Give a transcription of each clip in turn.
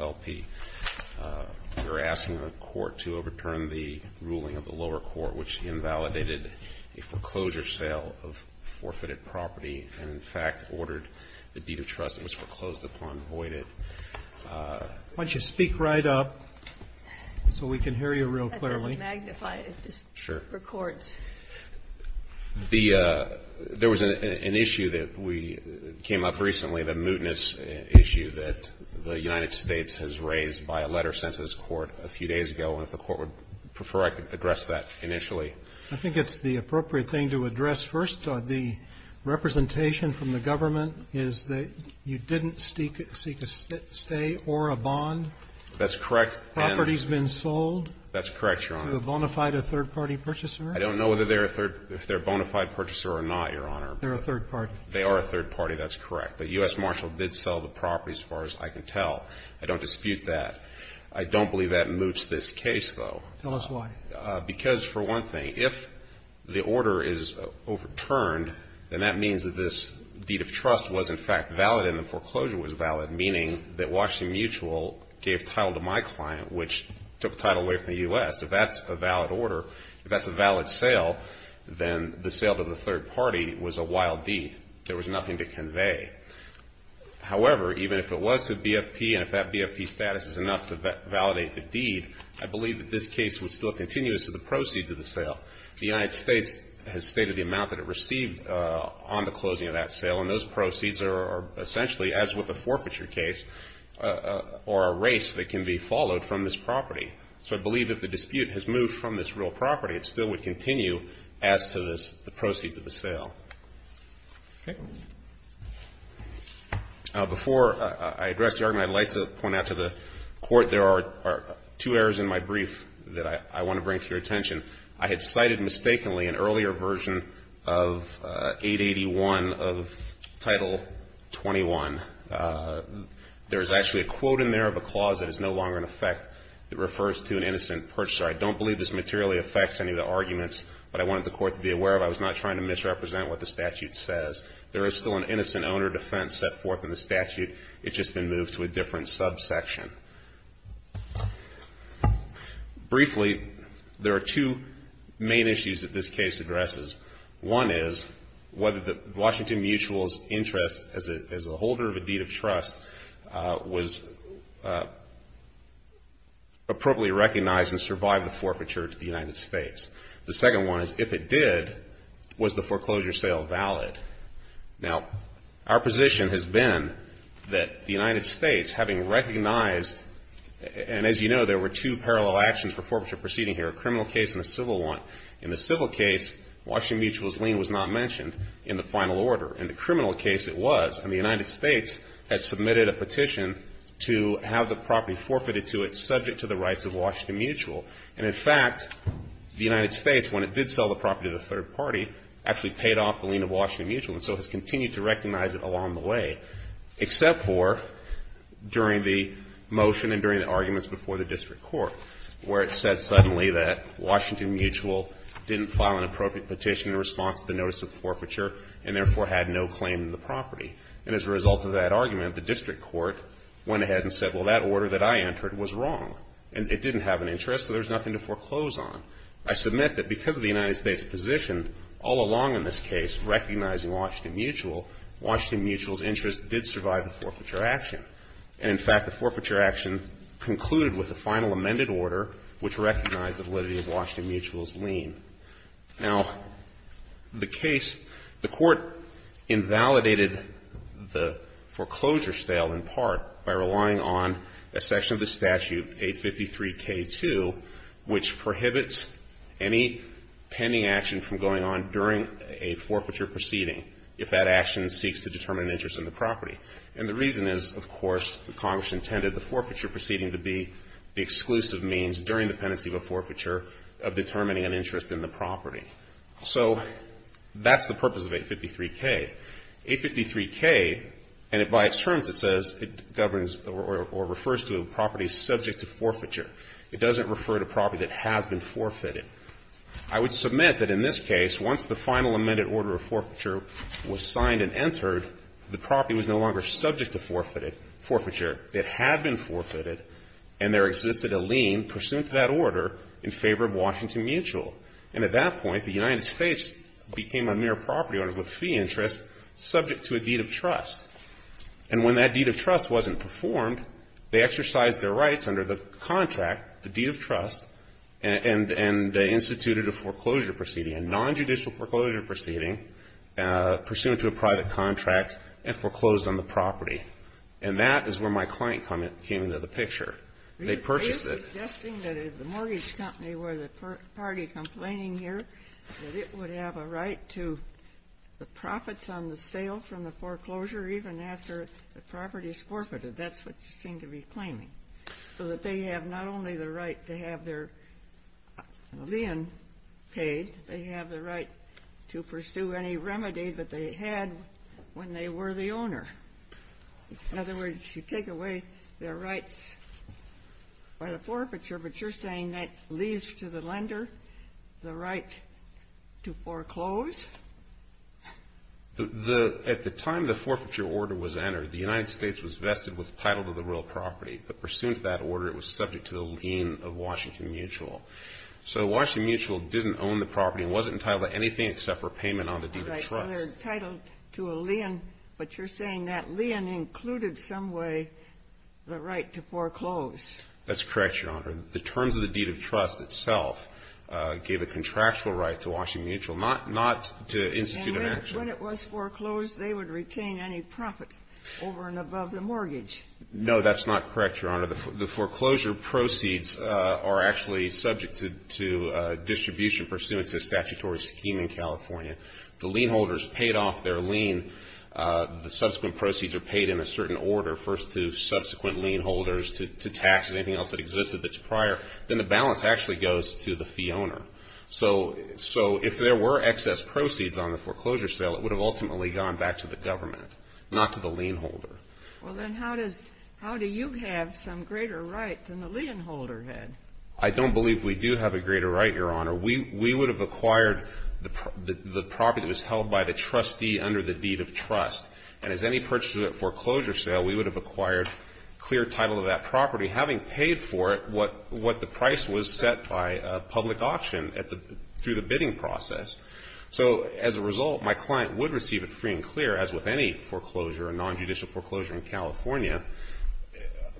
LP. We are asking the court to overturn the ruling of the lower court which invalidated a foreclosure sale of forfeited property and, in fact, ordered the deed of trust that was foreclosed upon voided. Why don't you speak right up so we can hear you real clearly. There was an issue that came up recently, the mootness issue that the United States has raised by a letter sent to this court a few days ago, and if the court would prefer I could address that initially. I think it's the appropriate thing to address first. The representation from the government is that you didn't seek a stay or a bond. That's correct. Property's been sold. That's correct, Your Honor. To the bona fide or third-party purchaser? I don't know if they're a bona fide purchaser or not, Your Honor. They're a third party. They are a third party. That's correct. But U.S. Marshall did sell the property, as far as I can tell. I don't dispute that. I don't believe that moots this case, though. Tell us why. Because, for one thing, if the order is overturned, then that means that this deed of trust was, in fact, valid and the foreclosure was valid, meaning that Washington Mutual gave title to my client, which took title away from the U.S. If that's a valid order, if that's a valid sale, then the sale to the third party was a wild deed. There was nothing to convey. However, even if it was to BFP and if that BFP status is enough to validate the deed, I believe that this case would still continue as to the proceeds of the sale. The United States has stated the amount that it received on the closing of that sale, and those proceeds are essentially, as with a forfeiture case, or a race that can be followed from this property. So I believe if the dispute has moved from this real property, it still would continue as to the proceeds of the sale. Okay. Before I address the argument, I'd like to point out to the Court there are two errors in my brief that I want to bring to your attention. I had cited mistakenly an earlier version of 881 of Title 21. There is actually a quote in there of a clause that is no longer in effect that refers to an innocent purchaser. I don't believe this materially affects any of the arguments, but I wanted the Court to be aware of it. I was not trying to misrepresent what the statute says. There is still an innocent owner defense set forth in the statute. It's just been moved to a different subsection. Briefly, there are two main issues that this case addresses. One is whether Washington Mutual's interest as a holder of a deed of trust was appropriately recognized and survived the forfeiture to the United States. The second one is if it did, was the foreclosure sale valid? Now, our position has been that the United States, having recognized, and as you know, there were two parallel actions for forfeiture proceeding here, a criminal case and a civil one. In the civil case, Washington Mutual's lien was not mentioned in the final order. In the criminal case, it was, and the United States had submitted a petition to have the property forfeited to it, subject to the rights of Washington Mutual. And in fact, the United States, when it did sell the property to the third party, actually paid off the lien of Washington Mutual and so has continued to recognize it along the way, except for during the motion and during the arguments before the district court, where it said suddenly that Washington Mutual didn't file an appropriate petition in response to the notice of forfeiture and therefore had no claim to the property. And as a result of that argument, the district court went ahead and said, well, that order that I entered was wrong and it didn't have an interest, so there's nothing to foreclose on. I submit that because of the United States' position all along in this case, recognizing Washington Mutual, Washington Mutual's interest did survive the forfeiture action. And in fact, the forfeiture action concluded with a final amended order which recognized the validity of Washington Mutual's lien. Now, the case, the Court invalidated the foreclosure sale in part by relying on a section of the statute, 853K2, which prohibits any pending action from going on during a forfeiture proceeding if that action seeks to determine an interest in the property. And the reason is, of course, Congress intended the forfeiture proceeding to be the exclusive means during the pendency of a forfeiture of determining an interest in the property. So that's the purpose of 853K. 853K, and by its terms it says it governs or refers to a property subject to forfeiture. It doesn't refer to property that has been forfeited. I would submit that in this case, once the final amended order of forfeiture was signed and entered, the property was no longer subject to forfeiture that had been forfeited and there existed a lien pursuant to that order in favor of Washington Mutual. And at that point, the United States became a mere property owner with fee interest subject to a deed of trust. And when that deed of trust wasn't performed, they exercised their rights under the contract, the deed of trust, and instituted a foreclosure proceeding, a nonjudicial foreclosure proceeding pursuant to a private contract and foreclosed on the property. And that is where my client came into the picture. They purchased it. I'm suggesting that if the mortgage company were the party complaining here, that it would have a right to the profits on the sale from the foreclosure even after the property is forfeited. That's what you seem to be claiming. So that they have not only the right to have their lien paid, they have the right to pursue any remedy that they had when they were the owner. In other words, you take away their rights by the forfeiture, but you're saying that leaves to the lender the right to foreclose? At the time the forfeiture order was entered, the United States was vested with the title of the real property. But pursuant to that order, it was subject to the lien of Washington Mutual. So Washington Mutual didn't own the property and wasn't entitled to anything except for payment on the deed of trust. So they're entitled to a lien, but you're saying that lien included some way the right to foreclose. That's correct, Your Honor. The terms of the deed of trust itself gave a contractual right to Washington Mutual, not to institute an action. And when it was foreclosed, they would retain any profit over and above the mortgage. No, that's not correct, Your Honor. The foreclosure proceeds are actually subject to distribution pursuant to a statutory scheme in California. The lien holders paid off their lien. The subsequent proceeds are paid in a certain order, first to subsequent lien holders to taxes, anything else that existed that's prior. Then the balance actually goes to the fee owner. So if there were excess proceeds on the foreclosure sale, it would have ultimately gone back to the government, not to the lien holder. Well, then how do you have some greater right than the lien holder had? I don't believe we do have a greater right, Your Honor. We would have acquired the property that was held by the trustee under the deed of trust. And as any purchaser at foreclosure sale, we would have acquired clear title of that property, having paid for it what the price was set by public auction through the bidding process. So as a result, my client would receive it free and clear, as with any foreclosure or nonjudicial foreclosure in California,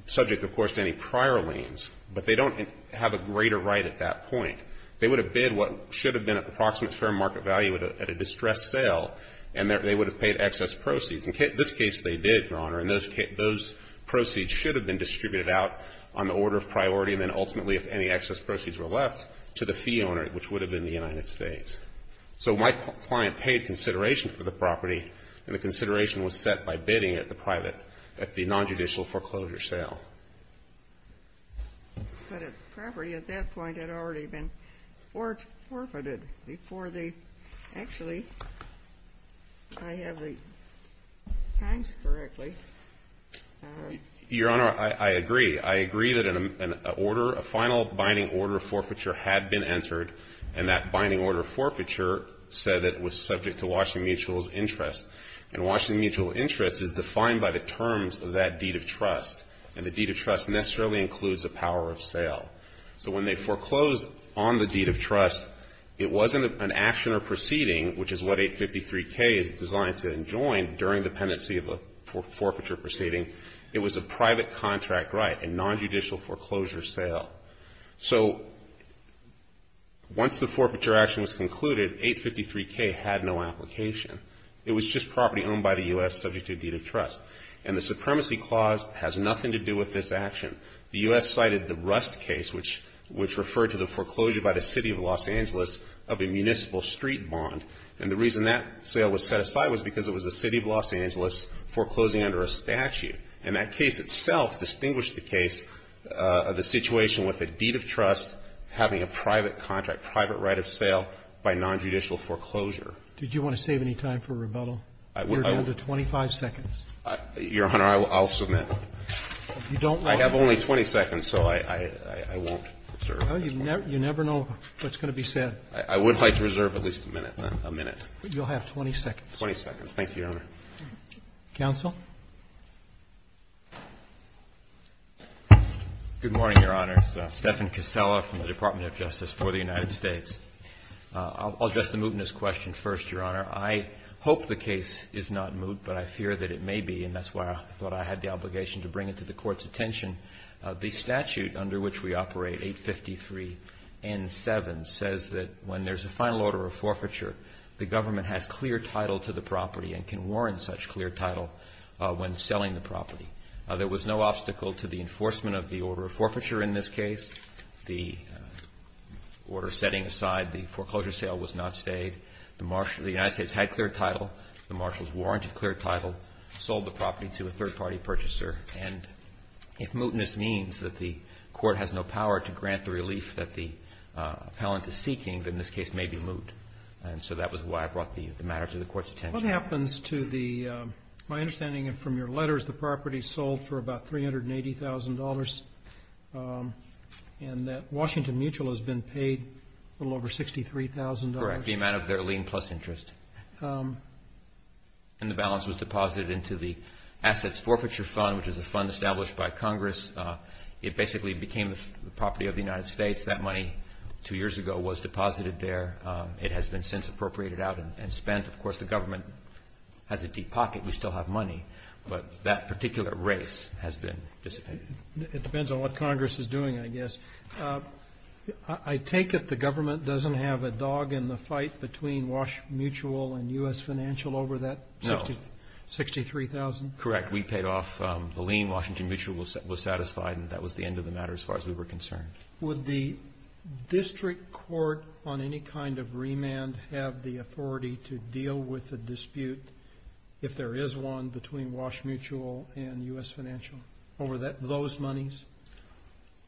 subject, of course, to any prior liens. But they don't have a greater right at that point. They would have bid what should have been an approximate fair market value at a distressed sale, and they would have paid excess proceeds. In this case, they did, Your Honor, and those proceeds should have been distributed out on the order of priority, and then ultimately, if any excess proceeds were left, to the fee owner, which would have been the United States. So my client paid consideration for the property, and the consideration was set by bidding at the private, at the nonjudicial foreclosure sale. But the property at that point had already been forfeited before the actually I have the times correctly. Your Honor, I agree. I agree that an order, a final binding order of forfeiture had been entered, and that binding order of forfeiture said that it was subject to Washington Mutual's interest. And Washington Mutual interest is defined by the terms of that deed of trust, and the deed of trust necessarily includes a power of sale. So when they foreclosed on the deed of trust, it wasn't an action or proceeding, which is what 853K is designed to enjoin during the pendency of a forfeiture proceeding. It was a private contract right, a nonjudicial foreclosure sale. So once the forfeiture action was concluded, 853K had no application. It was just property owned by the U.S. subject to a deed of trust. And the Supremacy Clause has nothing to do with this action. The U.S. cited the Rust case, which referred to the foreclosure by the City of Los Angeles of a municipal street bond. And the reason that sale was set aside was because it was the City of Los Angeles foreclosing under a statute. And that case itself distinguished the case, the situation with a deed of trust having a private contract, private right of sale by nonjudicial foreclosure. Did you want to save any time for rebuttal? You're down to 25 seconds. Your Honor, I'll submit. You don't want to? I have only 20 seconds, so I won't reserve this one. Well, you never know what's going to be said. I would like to reserve at least a minute, a minute. You'll have 20 seconds. 20 seconds. Thank you, Your Honor. Counsel? Good morning, Your Honor. It's Stephan Casella from the Department of Justice for the United States. I'll address the mootness question first, Your Honor. I hope the case is not moot, but I fear that it may be, and that's why I thought I had the obligation to bring it to the Court's attention. The statute under which we operate, 853 N7, says that when there's a final order of forfeiture, the government has clear title to the property and can warrant such clear title when selling the property. There was no obstacle to the enforcement of the order of forfeiture in this case. The order setting aside the foreclosure sale was not stayed. The United States had clear title. The marshals warranted clear title, sold the property to a third-party purchaser. And if mootness means that the Court has no power to grant the relief that the appellant is seeking, then this case may be moot. And so that was why I brought the matter to the Court's attention. What happens to the, my understanding from your letters, the property sold for about $380,000, and that Washington Mutual has been paid a little over $63,000? Correct, the amount of their lien plus interest. And the balance was deposited into the Assets Forfeiture Fund, which is a fund established by Congress. It basically became the property of the United States. That money two years ago was deposited there. It has been since appropriated out and spent. Of course, the government has a deep pocket. We still have money. But that particular race has been dissipated. It depends on what Congress is doing, I guess. I take it the government doesn't have a dog in the fight between Wash Mutual and U.S. Financial over that $63,000? Correct. We paid off the lien. Washington Mutual was satisfied. And that was the end of the matter as far as we were concerned. Would the district court on any kind of remand have the authority to deal with a dispute if there is one between Wash Mutual and U.S. Financial over those monies?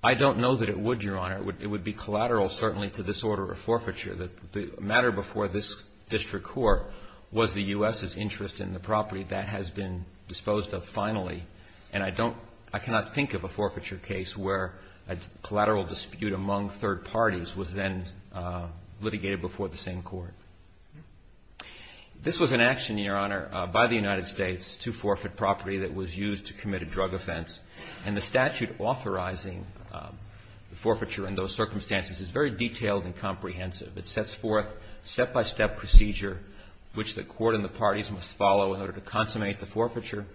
I don't know that it would, Your Honor. It would be collateral, certainly, to this order of forfeiture. The matter before this district court was the U.S.'s interest in the property that has been disposed of finally. And I cannot think of a forfeiture case where a collateral dispute among third parties was then litigated before the same court. This was an action, Your Honor, by the United States to forfeit property that was used to commit a drug offense. And the statute authorizing the forfeiture in those circumstances is very detailed and comprehensive. It sets forth step-by-step procedure which the court and the parties must follow in order to consummate the forfeiture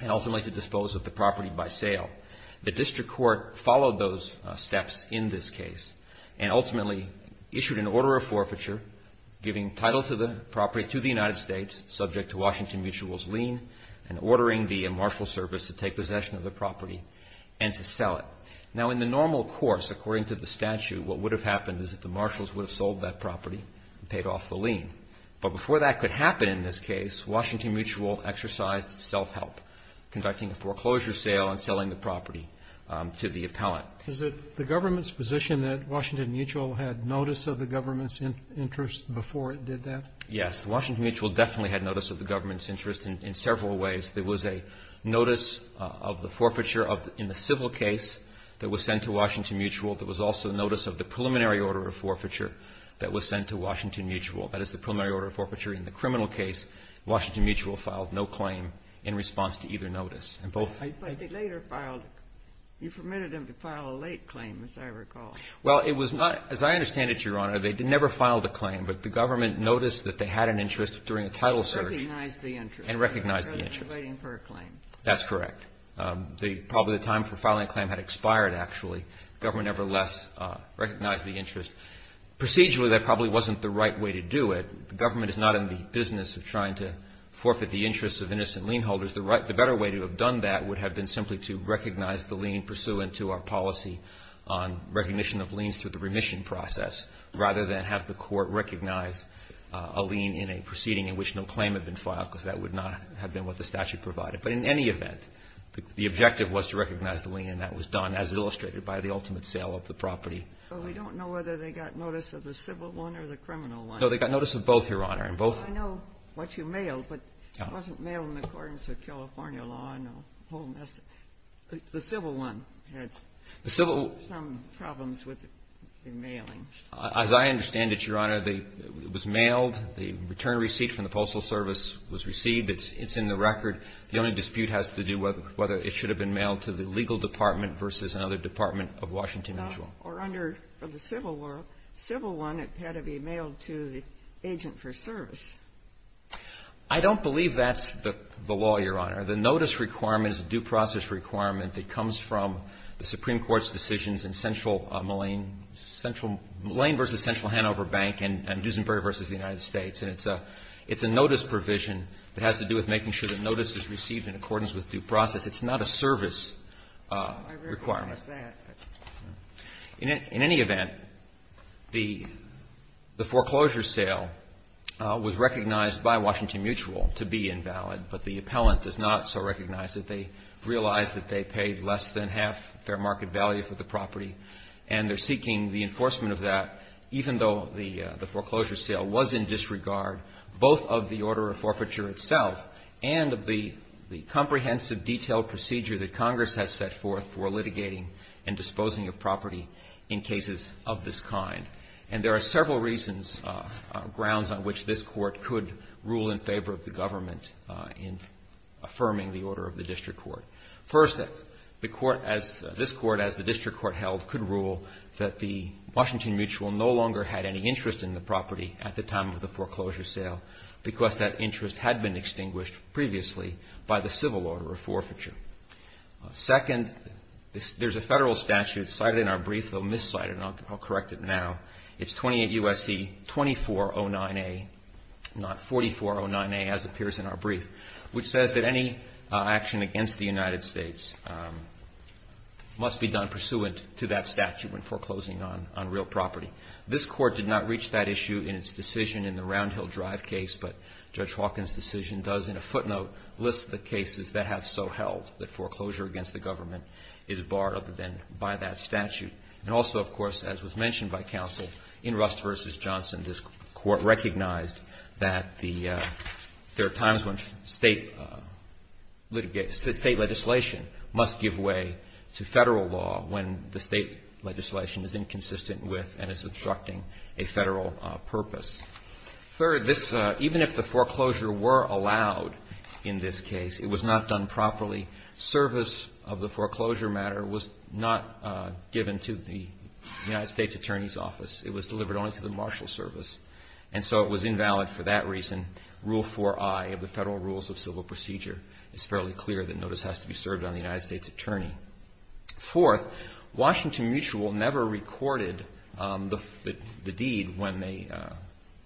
and ultimately to dispose of the property by sale. The district court followed those steps in this case and ultimately issued an order of forfeiture, giving title to the property to the United States subject to Washington Mutual's lien and ordering the marshal service to take possession of the property and to sell it. Now, in the normal course, according to the statute, what would have happened is that the marshals would have sold that property and paid off the lien. But before that could happen in this case, Washington Mutual exercised self-help, conducting a foreclosure sale and selling the property to the appellant. Is it the government's position that Washington Mutual had notice of the government's interest before it did that? Yes. Washington Mutual definitely had notice of the government's interest in several ways. There was a notice of the forfeiture in the civil case that was sent to Washington Mutual. There was also notice of the preliminary order of forfeiture that was sent to Washington Mutual. That is, the preliminary order of forfeiture in the criminal case. Washington Mutual filed no claim in response to either notice. But they later filed – you permitted them to file a late claim, as I recall. Well, it was not – as I understand it, Your Honor, they never filed a claim. But the government noticed that they had an interest during a title search. And recognized the interest. And recognized the interest. Rather than waiting for a claim. That's correct. Probably the time for filing a claim had expired, actually. The government, nevertheless, recognized the interest. Procedurally, that probably wasn't the right way to do it. The government is not in the business of trying to forfeit the interests of innocent lien holders. The better way to have done that would have been simply to recognize the lien pursuant to our policy on recognition of liens through the remission process. Rather than have the court recognize a lien in a proceeding in which no claim had been filed. Because that would not have been what the statute provided. But in any event, the objective was to recognize the lien. And that was done, as illustrated by the ultimate sale of the property. But we don't know whether they got notice of the civil one or the criminal one. No, they got notice of both, Your Honor. And both – I know what you mailed. But it wasn't mailed in accordance with California law. No. The civil one. It had some problems with the mailing. As I understand it, Your Honor, it was mailed. The return receipt from the Postal Service was received. It's in the record. The only dispute has to do with whether it should have been mailed to the legal department versus another department of Washington Mutual. Or under the civil one, it had to be mailed to the agent for service. I don't believe that's the law, Your Honor. The notice requirement is a due process requirement that comes from the Supreme Court's decisions in central Moline – Moline v. Central Hanover Bank and Duesenberg v. the United States. And it's a notice provision that has to do with making sure that notice is received in accordance with due process. It's not a service requirement. I recognize that. In any event, the foreclosure sale was recognized by Washington Mutual to be invalid. But the appellant does not so recognize it. They realize that they paid less than half fair market value for the property. And they're seeking the enforcement of that even though the foreclosure sale was in disregard both of the order of forfeiture itself and of the comprehensive detailed procedure that Congress has set forth for litigating and disposing of property in cases of this kind. And there are several reasons, grounds on which this Court could rule in favor of the government in affirming the order of the district court. First, the court as – this court as the district court held could rule that the Washington Mutual no longer had any interest in the property at the time of the foreclosure sale because that interest had been extinguished previously by the civil order of forfeiture. Second, there's a federal statute cited in our brief, though miscited and I'll correct it now. It's 28 U.S.C. 2409A, not 4409A as appears in our brief, which says that any action against the United States must be done pursuant to that statute when foreclosing on real property. This court did not reach that issue in its decision in the Round Hill Drive case, but Judge Hawkins' decision does in a footnote list the cases that have so held that foreclosure against the government is barred other than by that statute. And also, of course, as was mentioned by counsel, in Rust v. Johnson, this court recognized that the – there are times when state litigation must give way to federal law when the state legislation is inconsistent with and is obstructing a federal purpose. Third, this – even if the foreclosure were allowed in this case, it was not done properly. The service of the foreclosure matter was not given to the United States Attorney's Office. It was delivered only to the marshal service. And so it was invalid for that reason. Rule 4i of the Federal Rules of Civil Procedure is fairly clear that notice has to be served on the United States Attorney. Fourth, Washington Mutual never recorded the deed when they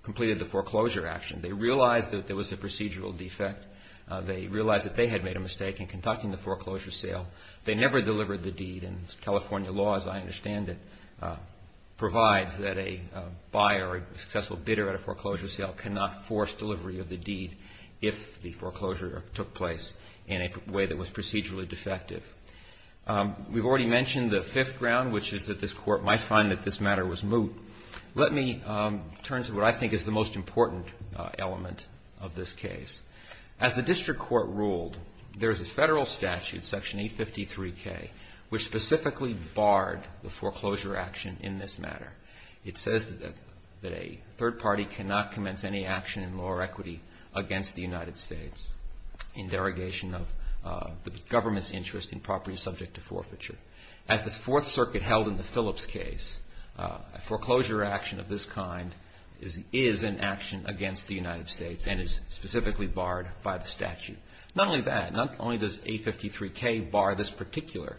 completed the foreclosure action. They realized that there was a procedural defect. They realized that they had made a mistake in conducting the foreclosure sale. They never delivered the deed. And California law, as I understand it, provides that a buyer, a successful bidder at a foreclosure sale cannot force delivery of the deed if the foreclosure took place in a way that was procedurally defective. We've already mentioned the fifth ground, which is that this court might find that this matter was moot. Let me turn to what I think is the most important element of this case. As the district court ruled, there is a federal statute, Section 853K, which specifically barred the foreclosure action in this matter. It says that a third party cannot commence any action in law or equity against the United States in derogation of the government's interest in property subject to forfeiture. As the Fourth Circuit held in the Phillips case, a foreclosure action of this kind is in action against the United States and is specifically barred by the statute. Not only that, not only does 853K bar this particular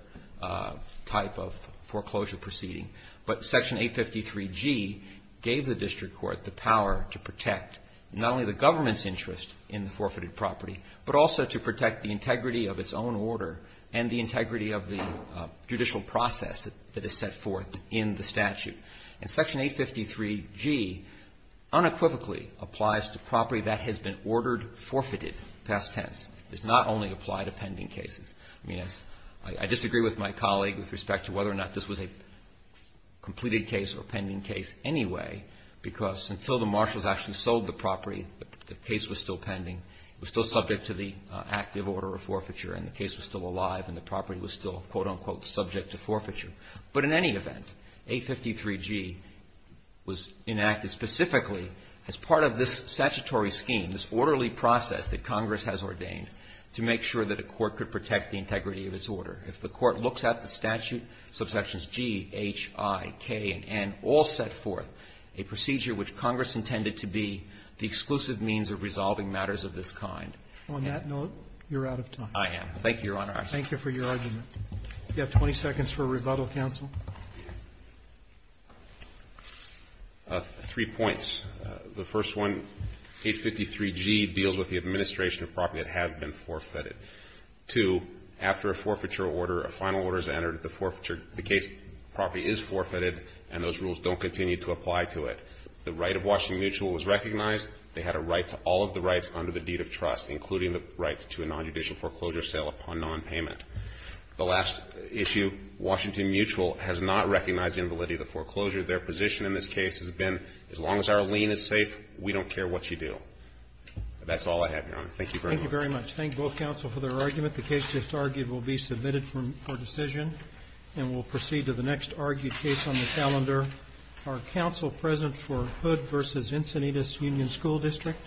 type of foreclosure proceeding, but Section 853G gave the district court the power to protect not only the government's interest in the forfeited property, but also to protect the integrity of its own order and the integrity of the judicial process that is set forth in the statute. And Section 853G unequivocally applies to property that has been ordered forfeited, past tense. It does not only apply to pending cases. I mean, I disagree with my colleague with respect to whether or not this was a completed case or a pending case anyway, because until the marshals actually sold the property, the case was still pending. It was still subject to the active order of forfeiture, and the case was still alive, and the property was still, quote, unquote, subject to forfeiture. But in any event, 853G was enacted specifically as part of this statutory scheme, this orderly process that Congress has ordained to make sure that a court could protect the integrity of its order. If the Court looks at the statute, subsections G, H, I, K, and N all set forth a procedure which Congress intended to be the exclusive means of resolving matters of this kind. Roberts. On that note, you're out of time. Thank you, Your Honor. Thank you for your argument. You have 20 seconds for rebuttal, counsel. Three points. The first one, 853G deals with the administration of property that has been forfeited. Two, after a forfeiture order, a final order is entered, the case property is forfeited, and those rules don't continue to apply to it. The right of Washington Mutual was recognized. They had a right to all of the rights under the deed of trust, including the right to a nonjudicial foreclosure sale upon nonpayment. The last issue, Washington Mutual has not recognized the invalidity of the foreclosure. Their position in this case has been, as long as our lien is safe, we don't care what you do. That's all I have, Your Honor. Thank you very much. Thank you very much. Thank both counsel for their argument. The case just argued will be submitted for decision, and we'll proceed to the next argued case on the calendar. Are counsel present for Hood v. Encinitas Union School District?